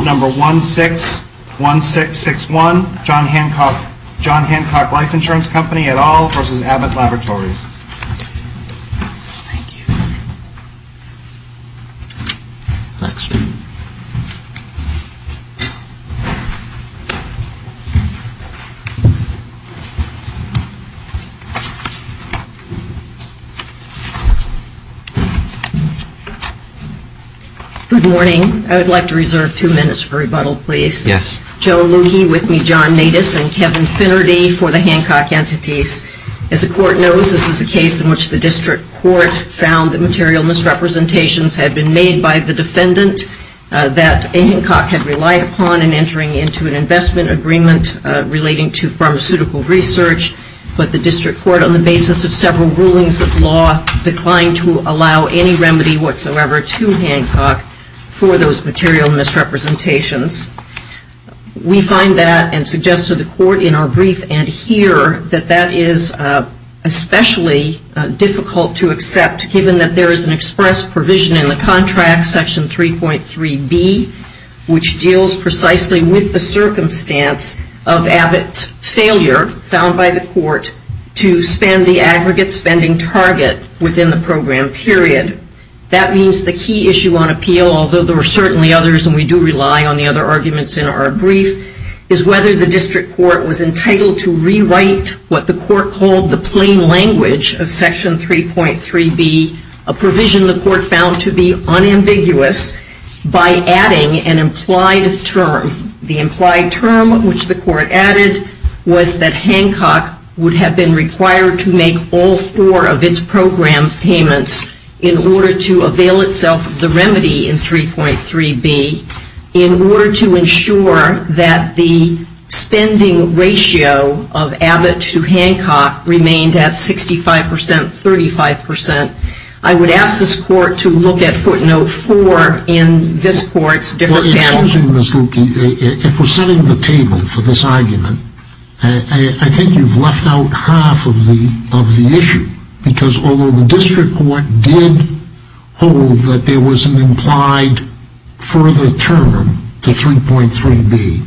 Number 161661, John Hancock Life Insurance Company et al. v. Abbott Laboratories. Thank you. Next. Good morning. I would like to reserve two minutes for rebuttal please. Yes. My name is Joan Lukey, with me John Natus and Kevin Finnerty for the Hancock entities. As the court knows, this is a case in which the district court found that material misrepresentations had been made by the defendant that Hancock had relied upon in entering into an investment agreement relating to pharmaceutical research, but the district court on the basis of several rulings of law declined to allow any remedy whatsoever to Hancock for those material misrepresentations. We find that and suggest to the court in our brief and here that that is especially difficult to accept given that there is an express provision in the contract section 3.3b, which deals precisely with the circumstance of Abbott's failure, found by the court, to spend the aggregate spending target within the program period. That means the key issue on appeal, although there are certainly others and we do rely on the other arguments in our brief, is whether the district court was entitled to rewrite what the court called the plain language of section 3.3b, a provision the court found to be unambiguous by adding an implied term. The implied term which the court added was that Hancock would have been required to make all four of its program payments in order to avail itself of the remedy in 3.3b, in order to ensure that the spending ratio of Abbott to Hancock remained at 65%, 35%. I would ask this court to look at footnote 4 in this court's different panel. If we're setting the table for this argument, I think you've left out half of the issue because although the district court did hold that there was an implied further term to 3.3b,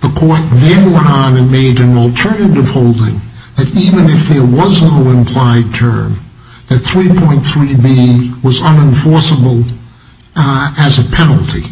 the court then went on and made an alternative holding that even if there was no implied term, that 3.3b was unenforceable as a penalty.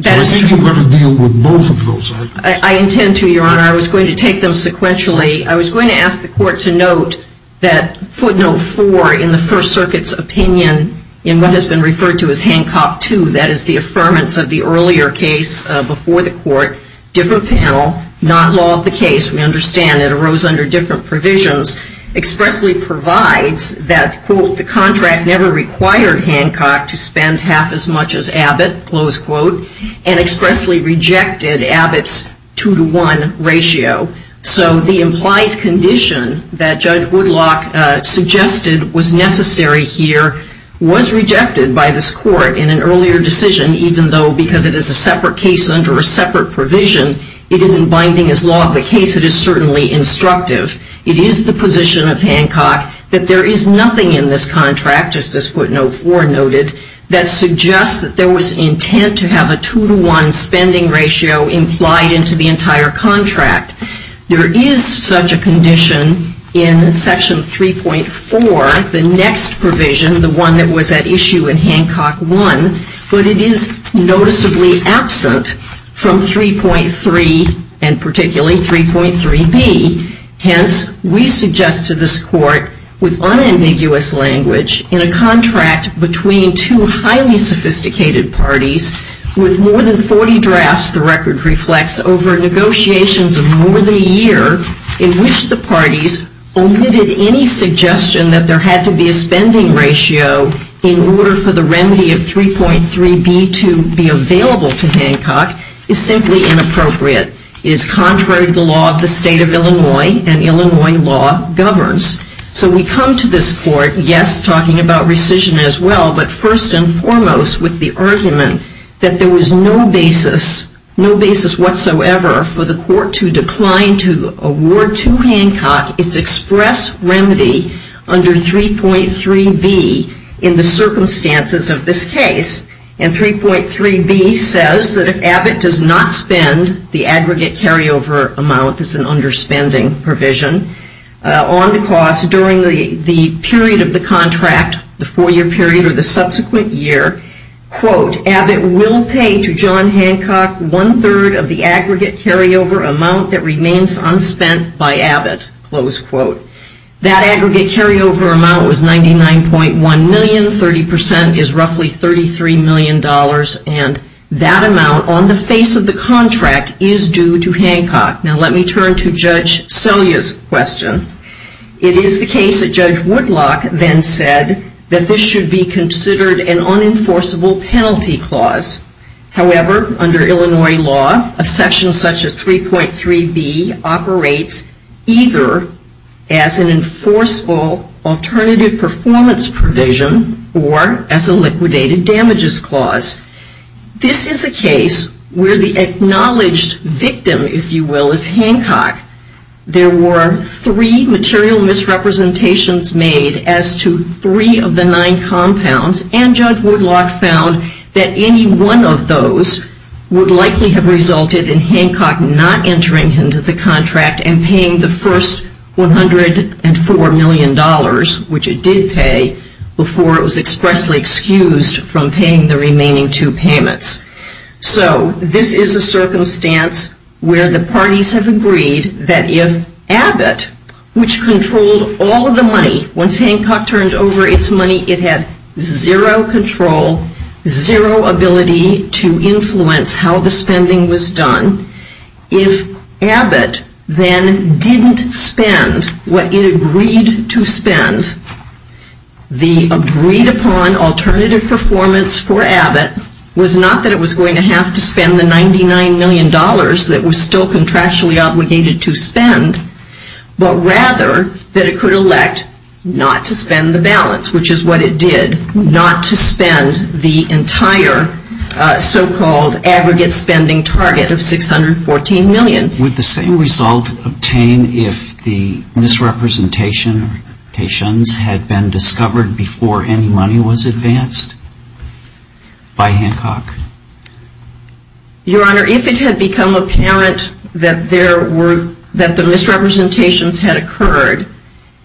So I think you've got to deal with both of those arguments. I intend to, Your Honor. I was going to take them sequentially. I was going to ask the court to note that footnote 4 in the First Circuit's opinion in what has been referred to as Hancock 2, that is the affirmance of the earlier case before the court, different panel, not law of the case. We understand it arose under different provisions, expressly provides that, quote, the contract never required Hancock to spend half as much as Abbott, close quote, and expressly rejected Abbott's 2 to 1 ratio. So the implied condition that Judge Woodlock suggested was necessary here was rejected by this court in an earlier decision even though because it is a separate case under a separate provision, it isn't binding as law of the case. It is certainly instructive. It is the position of Hancock that there is nothing in this contract, just as footnote 4 noted, that suggests that there was intent to have a 2 to 1 spending ratio implied into the entire contract. There is such a condition in Section 3.4, the next provision, the one that was at issue in Hancock 1, but it is noticeably absent from 3.3 and particularly 3.3b. Hence, we suggest to this court with unambiguous language in a contract between two highly sophisticated parties with more than 40 drafts, the record reflects, over negotiations of more than a year in which the parties omitted any suggestion that there had to be a spending ratio in order for the remedy of 3.3b to be available to Hancock is simply inappropriate. It is contrary to the law of the state of Illinois and Illinois law governs. So we come to this court, yes, talking about rescission as well, but first and foremost with the argument that there was no basis, no basis whatsoever for the court to decline to award to Hancock its express remedy under 3.3b in the circumstances of this case. And 3.3b says that if Abbott does not spend the aggregate carryover amount, this is an underspending provision, on the cost during the period of the contract, the four-year period or the subsequent year, quote, Abbott will pay to John Hancock one-third of the aggregate carryover amount that remains unspent by Abbott, close quote. That aggregate carryover amount was $99.1 million, 30% is roughly $33 million, and that amount on the face of the contract is due to Hancock. Now let me turn to Judge Selya's question. It is the case that Judge Woodlock then said that this should be considered an unenforceable penalty clause. However, under Illinois law, a section such as 3.3b operates either as an enforceable alternative performance provision or as a liquidated damages clause. This is a case where the acknowledged victim, if you will, is Hancock. There were three material misrepresentations made as to three of the nine and one of those would likely have resulted in Hancock not entering into the contract and paying the first $104 million, which it did pay, before it was expressly excused from paying the remaining two payments. So this is a circumstance where the parties have agreed that if Abbott, which controlled all of the money, once Hancock turned over its money, it had zero control, zero ability to influence how the spending was done. If Abbott then didn't spend what it agreed to spend, the agreed upon alternative performance for Abbott was not that it was going to have to spend the $99 million that was still contractually obligated to spend, but rather that it could elect not to spend the balance, which is what it did, not to spend the entire so-called aggregate spending target of $614 million. Would the same result obtain if the misrepresentations had been discovered before any money was advanced by Hancock? Your Honor, if it had become apparent that the misrepresentations had occurred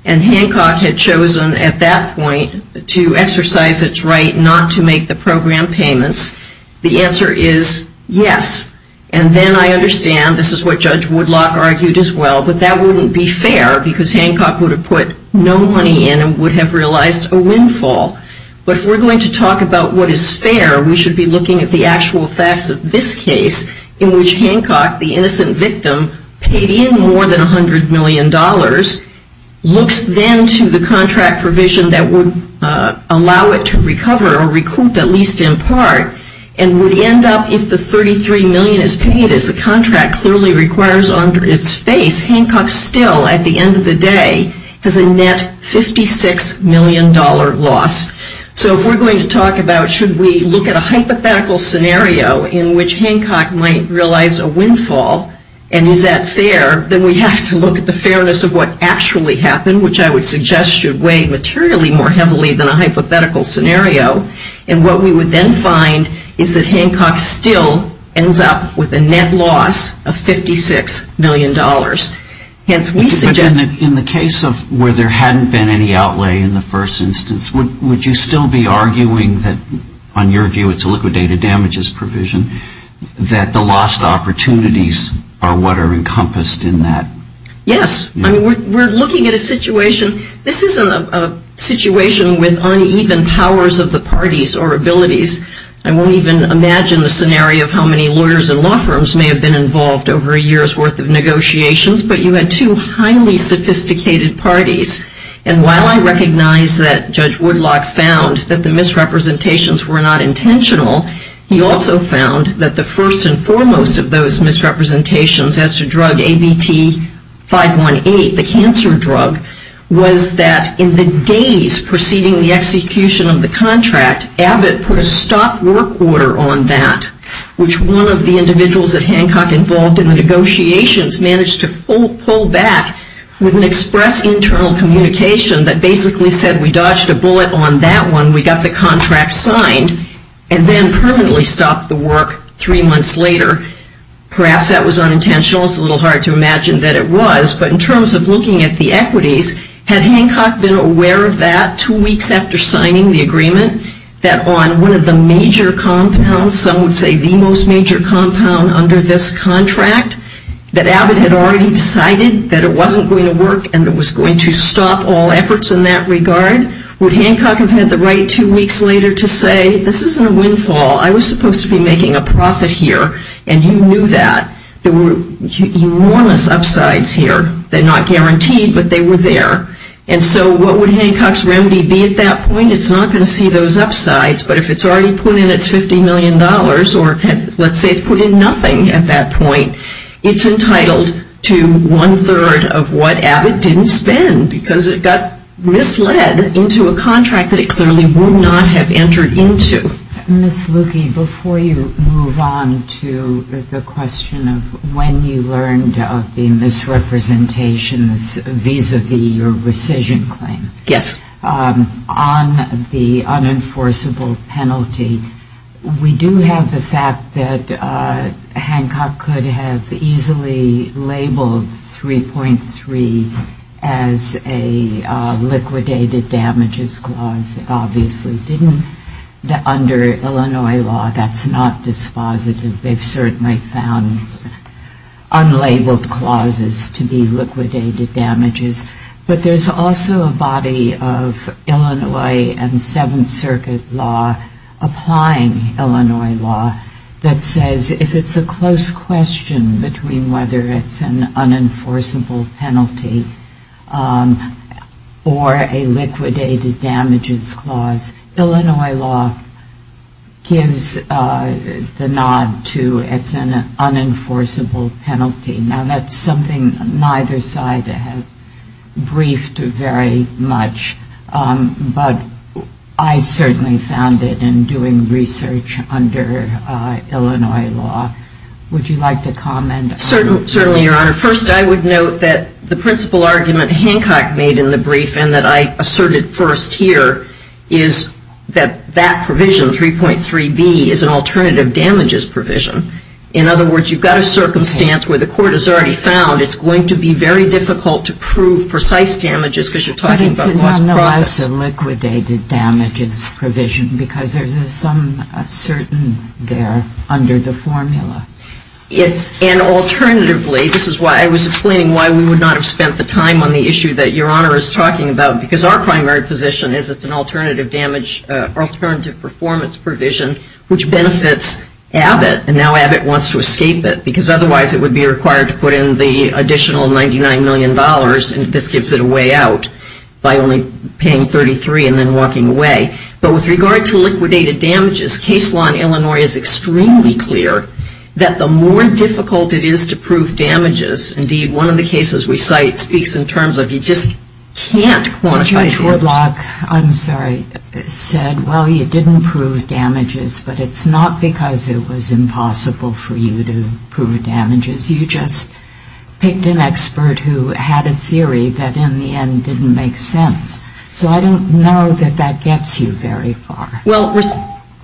and Hancock had chosen at that point to exercise its right not to make the program payments, the answer is yes. And then I understand, this is what Judge Woodlock argued as well, but that wouldn't be fair because Hancock would have put no money in and would have realized a windfall. But if we're going to talk about what is fair, we should be looking at the actual facts of this case in which Hancock, the innocent victim, paid in more than $100 million, looks then to the contract provision that would allow it to recover or recoup at least in part, and would end up if the $33 million is paid, as the contract clearly requires under its face, Hancock still at the end of the day has a net $56 million loss. So if we're going to talk about should we look at a hypothetical scenario in which Hancock might realize a windfall, and is that fair, then we have to look at the fairness of what actually happened, which I would suggest should weigh materially more heavily than a hypothetical scenario. And what we would then find is that Hancock still ends up with a net loss of $56 million. Hence, we suggest that in the case of where there hadn't been any outlay in the first instance, would you still be arguing that, on your view, it's a liquidated damages provision, that the lost opportunities are what are encompassed in that? Yes. I mean, we're looking at a situation. This isn't a situation with uneven powers of the parties or abilities. I won't even imagine the scenario of how many lawyers and law firms may have been involved over a year's worth of negotiations, but you had two highly sophisticated parties. And while I recognize that Judge Woodlock found that the misrepresentations were not intentional, he also found that the first and foremost of those misrepresentations as to drug ABT-518, the cancer drug, was that in the days preceding the execution of the contract, Abbott put a stop work order on that, which one of the individuals at Hancock involved in the negotiations managed to pull back with an express internal communication that basically said, we dodged a bullet on that one, we got the contract signed, and then permanently stopped the work three months later. Perhaps that was unintentional. It's a little hard to imagine that it was. But in terms of looking at the equities, had Hancock been aware of that two weeks after signing the agreement, that on one of the major compounds, some would say the most major compound under this contract, that Abbott had already decided that it wasn't going to work and was going to stop all efforts in that regard? Would Hancock have had the right two weeks later to say, this isn't a windfall, I was supposed to be making a profit here, and you knew that. There were enormous upsides here. They're not guaranteed, but they were there. And so what would Hancock's remedy be at that point? It's not going to see those upsides, but if it's already put in its $50 million, or let's say it's put in nothing at that point, it's entitled to one-third of what Abbott didn't spend because it got misled into a contract that it clearly would not have entered into. Ms. Lukey, before you move on to the question of when you learned of the misrepresentations vis-à-vis your rescission claim, on the unenforceable penalty, we do have the fact that Hancock could have easily labeled 3.3 as a liquidated damages clause. It obviously didn't. Under Illinois law, that's not dispositive. They've certainly found unlabeled clauses to be liquidated damages. But there's also a body of Illinois and Seventh Circuit law applying Illinois law that says if it's a close question between whether it's an unenforceable penalty or a liquidated damages clause, Illinois law gives the nod to it's an unenforceable penalty. Now, that's something neither side has briefed very much, but I certainly found it in doing research under Illinois law. Would you like to comment? Certainly, Your Honor. First, I would note that the principal argument Hancock made in the brief and that I asserted first here is that that provision, 3.3b, is an alternative damages provision. In other words, you've got a circumstance where the court has already found it's going to be very difficult to prove precise damages because you're talking about lost profits. But it's nonetheless a liquidated damages provision because there's a certain there under the formula. And alternatively, this is why I was explaining why we would not have spent the time on the issue that Your Honor is talking about, because our primary position is it's an alternative performance provision which benefits Abbott and now Abbott wants to escape it because otherwise it would be required to put in the additional $99 million and this gives it a way out by only paying 33 and then walking away. But with regard to liquidated damages, case law in Illinois is extremely clear that the more difficult it is to prove damages, indeed, one of the cases we cite speaks in terms of you just can't quantify damages. Judge Wardlock, I'm sorry, said, well, you didn't prove damages, but it's not because it was impossible for you to prove damages. You just picked an expert who had a theory that in the end didn't make sense. So I don't know that that gets you very far. Well,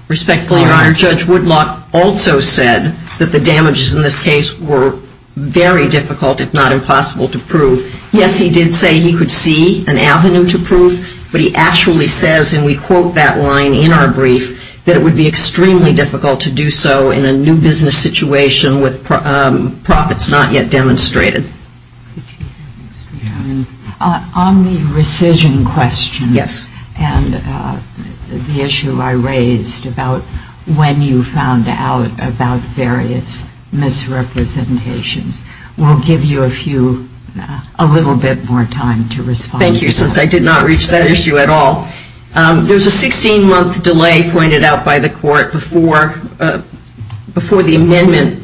respectfully, Your Honor, Judge Woodlock also said that the damages in this case were very difficult, if not impossible, to prove. Yes, he did say he could see an avenue to prove, but he actually says, and we quote that line in our brief, that it would be extremely difficult to do so in a new business situation with profits not yet demonstrated. On the rescission question and the issue I raised about when you found out about various misrepresentations, we'll give you a few, a little bit more time to respond. Thank you, since I did not reach that issue at all. There's a 16-month delay pointed out by the court before the amendment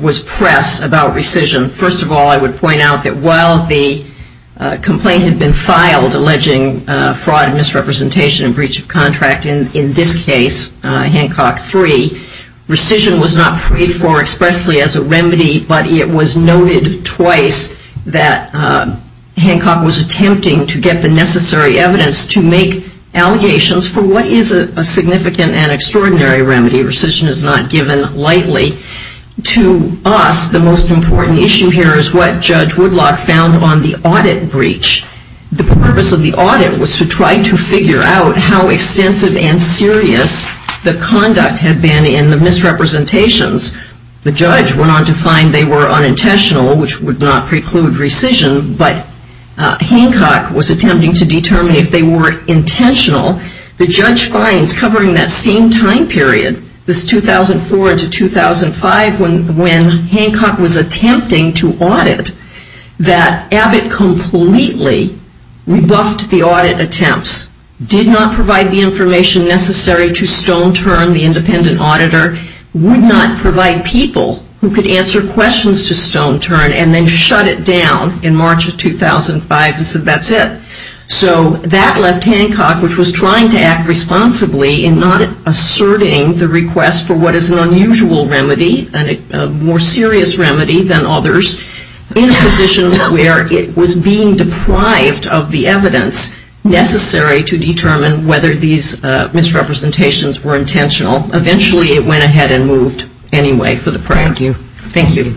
was pressed about rescission. First of all, I would point out that while the complaint had been filed alleging fraud and misrepresentation and breach of contract, in this case, Hancock III, rescission was not paid for expressly as a remedy, but it was attempting to get the necessary evidence to make allegations for what is a significant and extraordinary remedy. Rescission is not given lightly. To us, the most important issue here is what Judge Woodlock found on the audit breach. The purpose of the audit was to try to figure out how extensive and serious the conduct had been in the misrepresentations. The judge went on to find they were unintentional, which would not preclude rescission, but Hancock was attempting to determine if they were intentional. The judge finds, covering that same time period, this 2004 to 2005, when Hancock was attempting to audit, that Abbott completely rebuffed the audit attempts, did not provide the information necessary to stone turn the independent auditor, would not provide people who could answer questions to answer questions. The judge found in March of 2005 and said that's it. So that left Hancock, which was trying to act responsibly in not asserting the request for what is an unusual remedy, a more serious remedy than others, in a position where it was being deprived of the evidence necessary to determine whether these misrepresentations were intentional. Eventually it went ahead and moved anyway for the prior year. Thank you.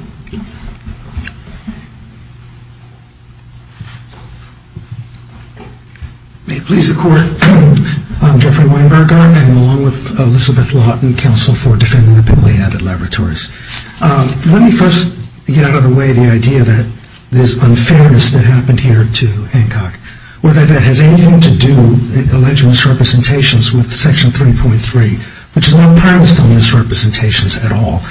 May it please the court, I'm Jeffrey Weinberger, I'm along with Elizabeth Lawton, counsel for defending the Pemberley Abbott Laboratories. Let me first get out of the way the idea that this unfairness that happened here to Hancock, whether that has anything to do, alleged misrepresentations with section 3.3, which is not premised on misrepresentations at all.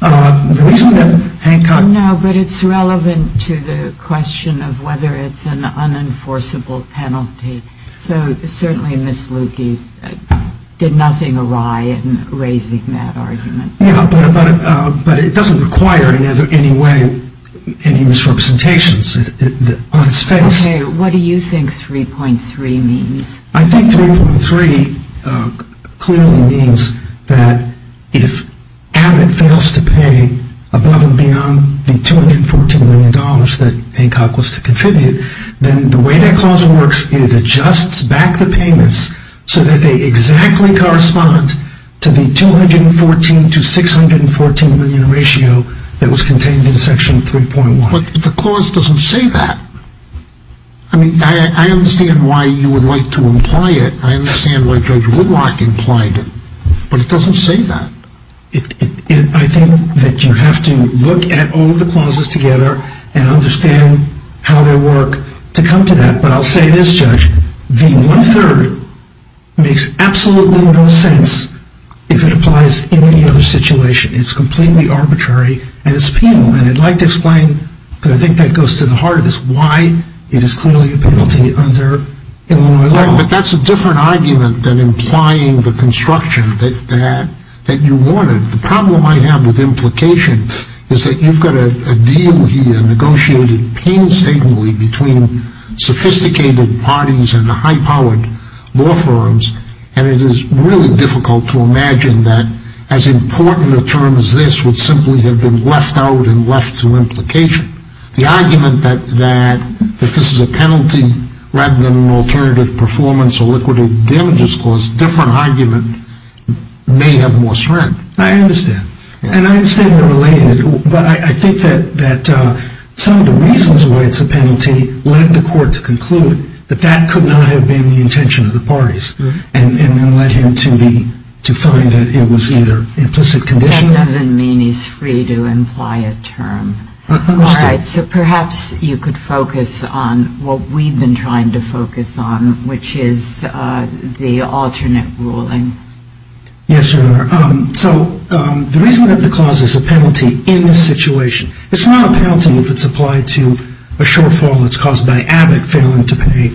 The reason that Hancock... No, but it's relevant to the question of whether it's an unenforceable penalty. So certainly Ms. Lukey did nothing awry in raising that argument. Yeah, but it doesn't require in any way any misrepresentations on its face. Okay. What do you think 3.3 means? I think 3.3 clearly means that if Abbott fails to pay above and beyond the $214 million that Hancock was to contribute, then the way that clause works, it adjusts back the payments so that they exactly correspond to the $214 to $614 million ratio that was contained in section 3.1. But the clause doesn't say that. I mean, I understand why you would like to imply it. I understand why Judge Woodrock implied it. But it doesn't say that. I think that you have to look at all of the clauses together and understand how they work to come to that. But I'll say this, Judge. The one-third makes absolutely no sense if it applies in any other situation. It's completely arbitrary, and it's penal. And I'd like to explain, because I think that goes to the heart of this, why it is clearly a penalty under Illinois law. But that's a different argument than implying the construction that you wanted. The problem I have with implication is that you've got a deal here negotiated painstakingly between sophisticated parties and high-powered law firms, and it is really difficult to imagine that as important a term as this would simply have been left out and left to implication. The argument that this is a penalty rather than an alternative performance or liquidated damages clause, different argument, may have more strength. I understand. And I understand they're related. But I think that some of the reasons why it's a penalty led the court to conclude that that could not have been the intention of the parties, and then led him to find that it was either implicit conditions. That doesn't mean he's free to imply a term. I understand. All right. So perhaps you could focus on what we've been trying to focus on, which is the alternate ruling. Yes, Your Honor. So the reason that the clause is a penalty in this situation, it's not a penalty if it's applied to a shortfall that's caused by Abbott failing to pay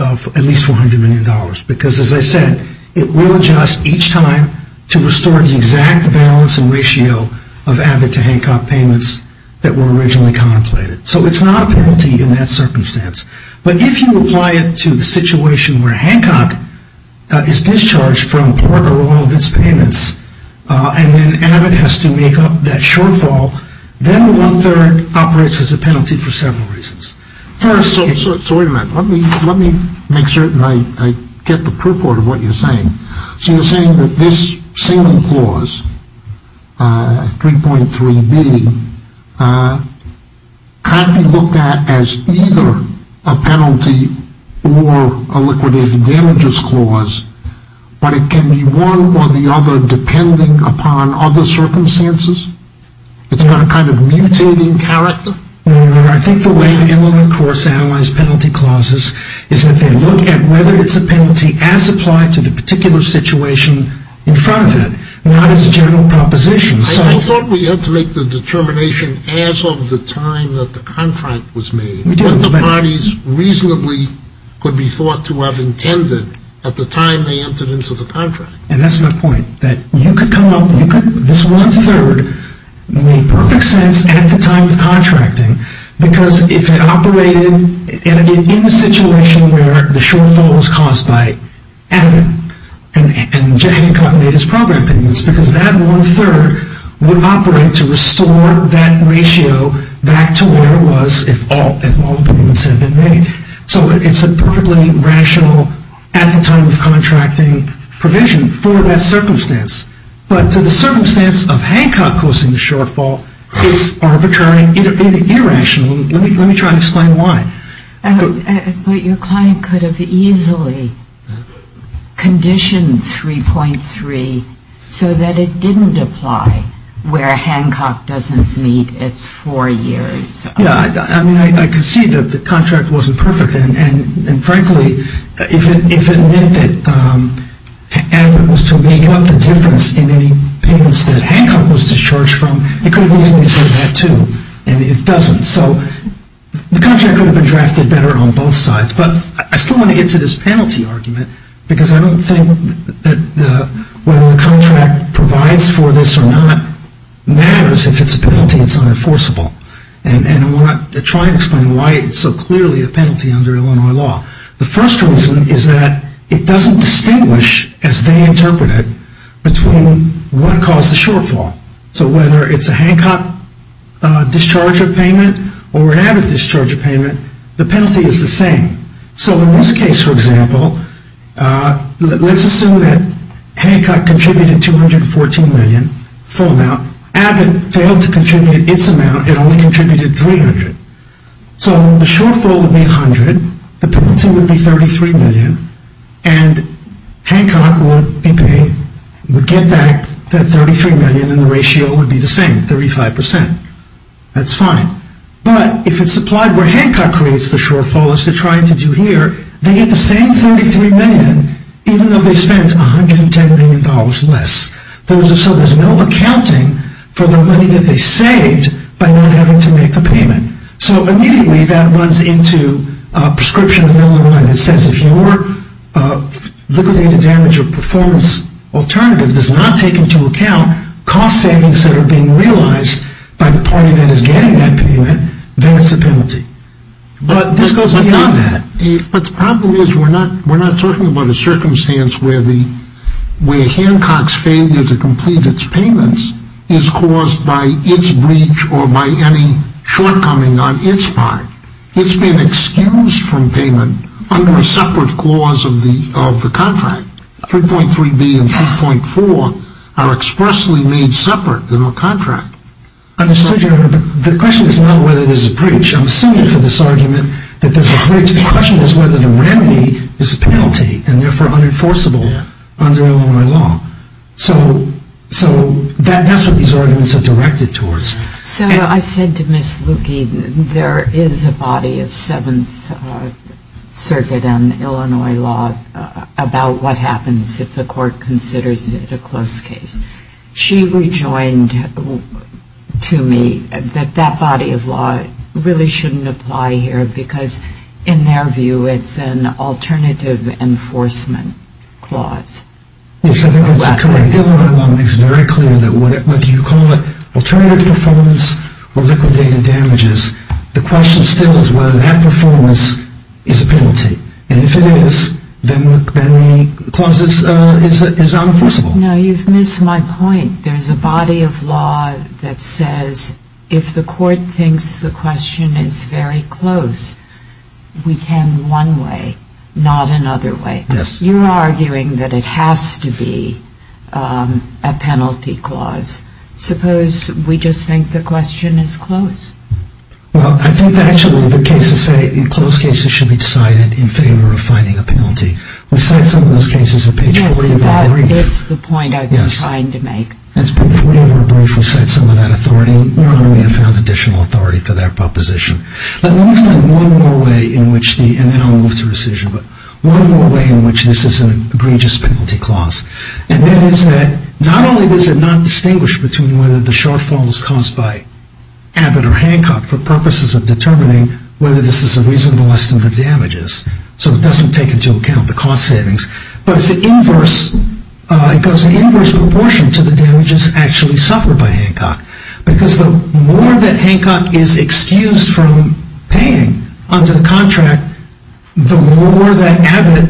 at least $400 million. Because, as I said, it will adjust each time to restore the exact balance and ratio of Abbott to Hancock payments that were originally contemplated. So it's not a penalty in that circumstance. But if you apply it to the situation where Hancock is discharged from port or all of its payments, and then Abbott has to make up that shortfall, then the one-third operates as a penalty for several reasons. So wait a minute. Let me make certain I get the purport of what you're saying. So you're saying that this same clause, 3.3b, can't be looked at as either a penalty or a liquidated damages clause, but it can be one or the other depending upon other circumstances? It's got a kind of mutating character? I think the way the Illinois Courts analyze penalty clauses is that they look at whether it's a penalty as applied to the particular situation in front of it, not as a general proposition. I thought we had to make the determination as of the time that the contract was made, what the parties reasonably could be thought to have intended at the time they entered into the contract. And that's my point, that you could come up with this one-third made perfect sense at the time of contracting, because if it operated in the situation where the shortfall was caused by Abbott and Hancock made his program payments, because that one-third would operate to restore that ratio back to where it was if all the payments had been made. So it's a perfectly rational at-the-time-of-contracting provision for that circumstance. But the circumstance of Hancock causing the shortfall is arbitrary and irrational. Let me try and explain why. But your client could have easily conditioned 3.3 so that it didn't apply where Hancock doesn't meet its four years. Yeah, I mean, I could see that the contract wasn't perfect, and frankly, if it meant that Abbott was to make up the difference in any payments that Hancock was discharged from, it could have easily said that too, and it doesn't. So the contract could have been drafted better on both sides. But I still want to get to this penalty argument, because I don't think that whether the contract provides for this or not matters if it's a penalty, it's unenforceable. And I want to try and explain why it's so clearly a penalty under Illinois law. The first reason is that it doesn't distinguish, as they interpret it, between what caused the shortfall. So whether it's a Hancock discharge of payment or an Abbott discharge of payment, the penalty is the same. So in this case, for example, let's assume that Hancock contributed $214 million, full amount. Abbott failed to contribute its amount. It only contributed $300 million. So the shortfall would be $100 million, the penalty would be $33 million, and Hancock would get back that $33 million, and the ratio would be the same, 35%. That's fine. But if it's supplied where Hancock creates the shortfall, as they're trying to do here, they get the same $33 million, even though they spent $110 million less. So there's no accounting for the money that they saved by not having to make the payment. So immediately that runs into a prescription of Illinois that says, if your liquidated damage or performance alternative does not take into account cost savings that are being realized by the party that is getting that payment, then it's a penalty. But this goes beyond that. But the problem is we're not talking about a circumstance where Hancock's failure to complete its payments is caused by its breach or by any shortcoming on its part. It's been excused from payment under a separate clause of the contract. 3.3B and 3.4 are expressly made separate in the contract. I understood your argument, but the question is not whether there's a breach. The question is whether the remedy is a penalty and, therefore, unenforceable under Illinois law. So that's what these arguments are directed towards. So I said to Ms. Lukey, there is a body of Seventh Circuit and Illinois law about what happens if the court considers it a close case. She rejoined to me that that body of law really shouldn't apply here because, in their view, it's an alternative enforcement clause. Yes, I think that's correct. Illinois law makes very clear that whether you call it alternative performance or liquidated damages, the question still is whether that performance is a penalty. And if it is, then the clause is unenforceable. No, you've missed my point. I think there's a body of law that says if the court thinks the question is very close, we can one way, not another way. Yes. You're arguing that it has to be a penalty clause. Suppose we just think the question is close? Well, I think, actually, the cases say close cases should be decided in favor of finding a penalty. We cite some of those cases in page 4 of the agreement. That is the point I've been trying to make. Yes. If we were to cite some of that authority, we would only have found additional authority for that proposition. Let me explain one more way in which the, and then I'll move to rescission, but one more way in which this is an egregious penalty clause. And that is that not only does it not distinguish between whether the shortfall was caused by Abbott or Hancock for purposes of determining whether this is a reasonable estimate of damages, so it doesn't take into account the cost savings, but it's the inverse, it goes in inverse proportion to the damages actually suffered by Hancock. Because the more that Hancock is excused from paying under the contract, the more that Abbott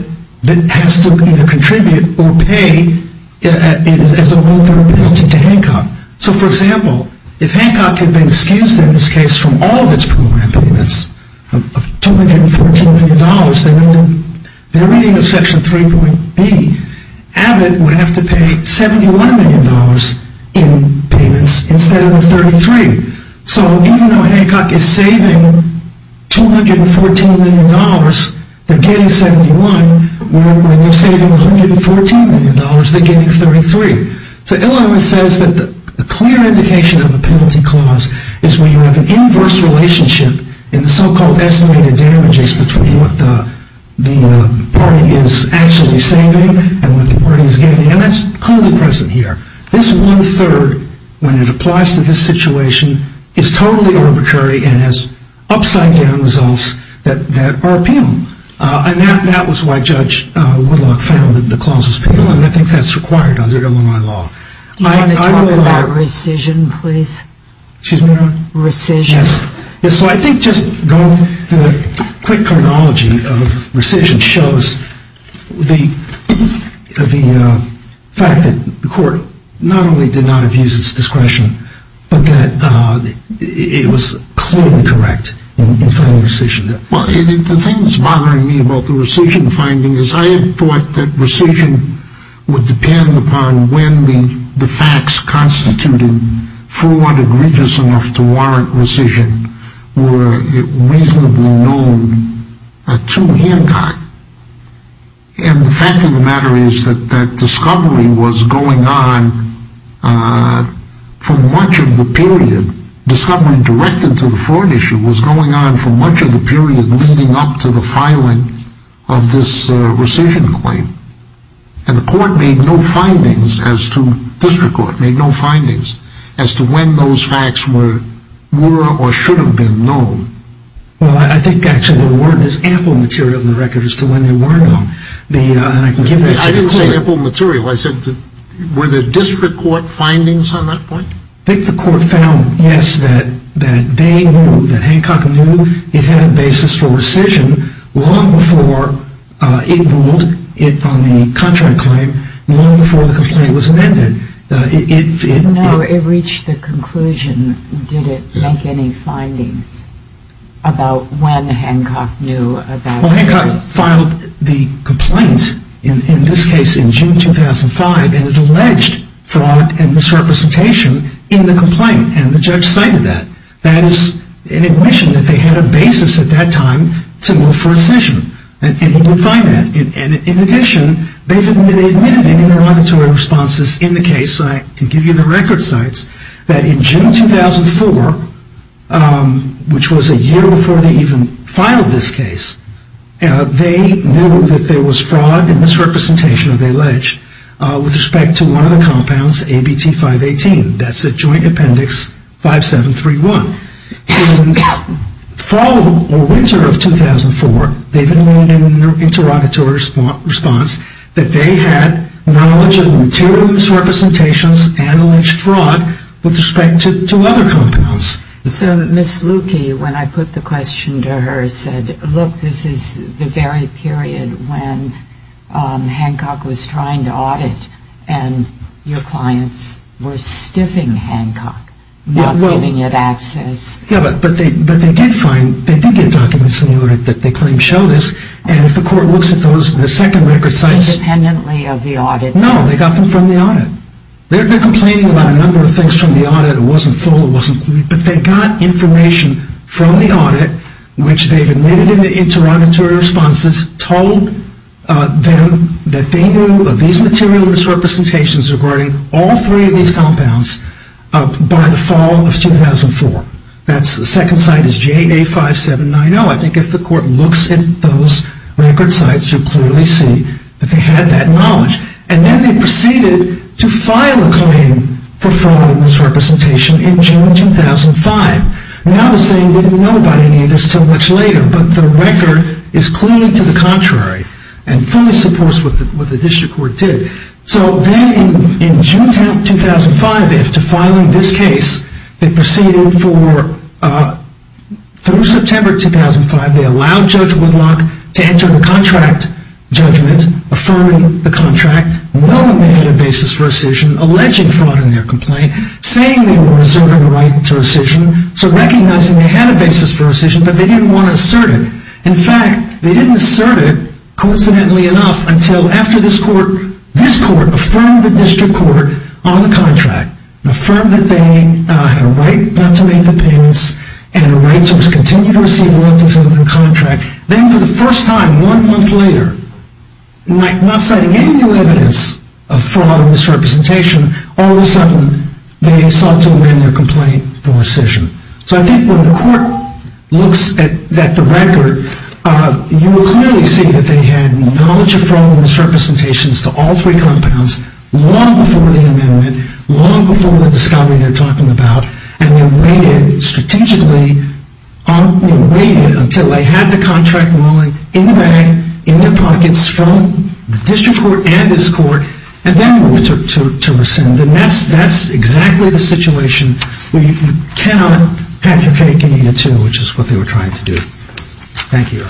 has to either contribute or pay as a loan for a penalty to Hancock. So for example, if Hancock had been excused in this case from all of its program payments of $214 million, then in the reading of section 3.B, Abbott would have to pay $71 million in payments instead of the 33. So even though Hancock is saving $214 million, they're getting 71. When they're saving $114 million, they're getting 33. So Illinois says that the clear indication of a penalty clause is when you have an inverse relationship in the so-called estimated damages between what the party is actually saving and what the party is gaining. And that's clearly present here. This one-third, when it applies to this situation, is totally arbitrary and has upside-down results that are penal. And that was why Judge Woodlock found that the clause was penal, and I think that's required under Illinois law. Do you want to talk about rescission, please? Excuse me? Rescission. Yes. So I think just going through the quick chronology of rescission shows the fact that the court not only did not abuse its discretion, but that it was clearly correct in filing rescission. Well, the thing that's bothering me about the rescission finding is I had thought that rescission would depend upon when the facts constituting fraud egregious enough to warrant rescission were reasonably known to Hancock. And the fact of the matter is that that discovery was going on for much of the period. leading up to the filing of this rescission claim. And the district court made no findings as to when those facts were or should have been known. Well, I think actually there's ample material in the record as to when they weren't known. I didn't say ample material. I said were there district court findings on that point? I think the court found, yes, that they knew, that Hancock knew it had a basis for rescission long before it ruled it on the contract claim, long before the complaint was amended. No, it reached the conclusion. Did it make any findings about when Hancock knew about this? Well, Hancock filed the complaint, in this case in June 2005, and it alleged fraud and misrepresentation in the complaint. And the judge cited that. That is an admission that they had a basis at that time to move for rescission. And he didn't find that. And in addition, they admitted any derogatory responses in the case. I can give you the record sites, that in June 2004, which was a year before they even filed this case, they knew that there was fraud and misrepresentation, they alleged, with respect to one of the compounds, ABT 518. That's the joint appendix 5731. In fall or winter of 2004, they've admitted in their interrogatory response that they had knowledge of material misrepresentations and alleged fraud with respect to other compounds. So Ms. Lukey, when I put the question to her, said, look, this is the very period when Hancock was trying to audit and your clients were stiffing Hancock, not giving it access. Yeah, but they did find, they did get documents in the audit that they claimed show this. And if the court looks at those, the second record sites. Independently of the audit. No, they got them from the audit. They're complaining about a number of things from the audit. It wasn't full, it wasn't complete. But they got information from the audit, which they've admitted in the interrogatory responses, told them that they knew of these material misrepresentations regarding all three of these compounds by the fall of 2004. That's the second site is JA5790. I think if the court looks at those record sites, you'll clearly see that they had that knowledge. And then they proceeded to file a claim for fraud and misrepresentation in June 2005. Now they're saying they didn't know about any of this until much later. But the record is clearly to the contrary and fully supports what the district court did. So then in June 2005, after filing this case, they proceeded for, through September 2005, they allowed Judge Woodlock to enter the contract judgment, affirming the contract, knowing they had a basis for rescission, alleging fraud in their complaint, saying they were reserving a right to rescission, so recognizing they had a basis for rescission, but they didn't want to assert it. In fact, they didn't assert it, coincidentally enough, until after this court, this court affirmed the district court on the contract, affirmed that they had a right not to make the payments, and a right to continue to receive the left of the contract. Then for the first time, one month later, not citing any new evidence of fraud or misrepresentation, all of a sudden they sought to amend their complaint for rescission. So I think when the court looks at the record, you will clearly see that they had knowledge of fraud and misrepresentations to all three compounds long before the amendment, long before the discovery they're talking about, and they waited strategically, they waited until they had the contract ruling in the bag, in their pockets, from the district court and this court, and then moved to rescind. And that's exactly the situation where you cannot advocate getting a 2, which is what they were trying to do. Thank you.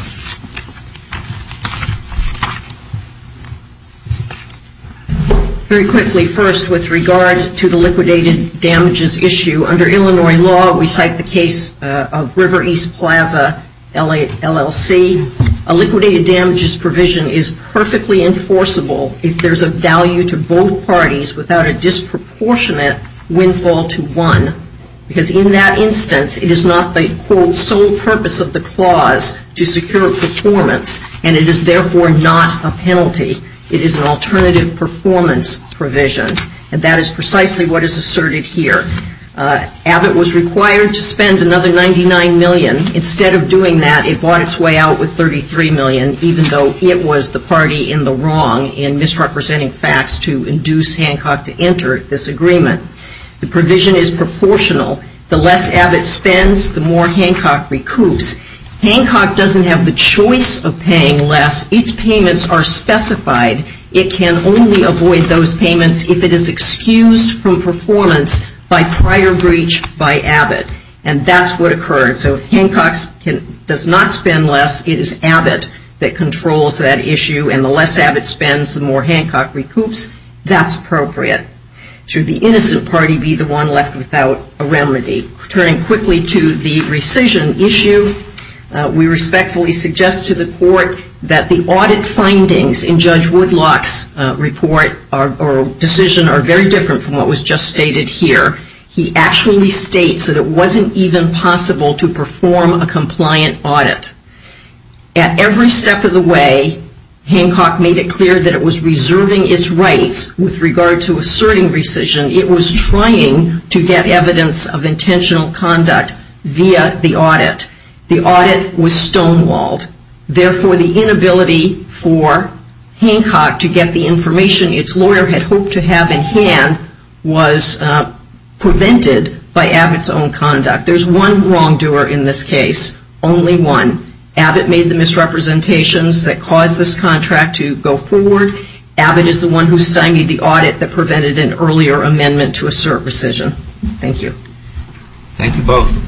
Very quickly, first, with regard to the liquidated damages issue, under Illinois law we cite the case of River East Plaza LLC. A liquidated damages provision is perfectly enforceable if there's a value to both parties without a disproportionate windfall to one, because in that instance, it is not the, quote, sole purpose of the clause to secure performance, and it is therefore not a penalty. It is an alternative performance provision, and that is precisely what is asserted here. Abbott was required to spend another $99 million. Instead of doing that, it bought its way out with $33 million, even though it was the party in the wrong in misrepresenting facts to induce Hancock to enter this agreement. The provision is proportional. The less Abbott spends, the more Hancock recoups. Hancock doesn't have the choice of paying less. Its payments are specified. It can only avoid those payments if it is excused from performance by prior breach by Abbott. And that's what occurred. So if Hancock does not spend less, it is Abbott that controls that issue, and the less Abbott spends, the more Hancock recoups. That's appropriate. Should the innocent party be the one left without a remedy? Turning quickly to the rescission issue, we respectfully suggest to the court that the audit findings in Judge Woodlock's report or decision are very different from what was just stated here. He actually states that it wasn't even possible to perform a compliant audit. At every step of the way, Hancock made it clear that it was reserving its rights with regard to asserting rescission. It was trying to get evidence of intentional conduct via the audit. The audit was stonewalled. Therefore, the inability for Hancock to get the information its lawyer had hoped to have in hand was prevented by Abbott's own conduct. There's one wrongdoer in this case, only one. Abbott made the misrepresentations that caused this contract to go forward. Abbott is the one who stymied the audit that prevented an earlier amendment to assert rescission. Thank you. Thank you both.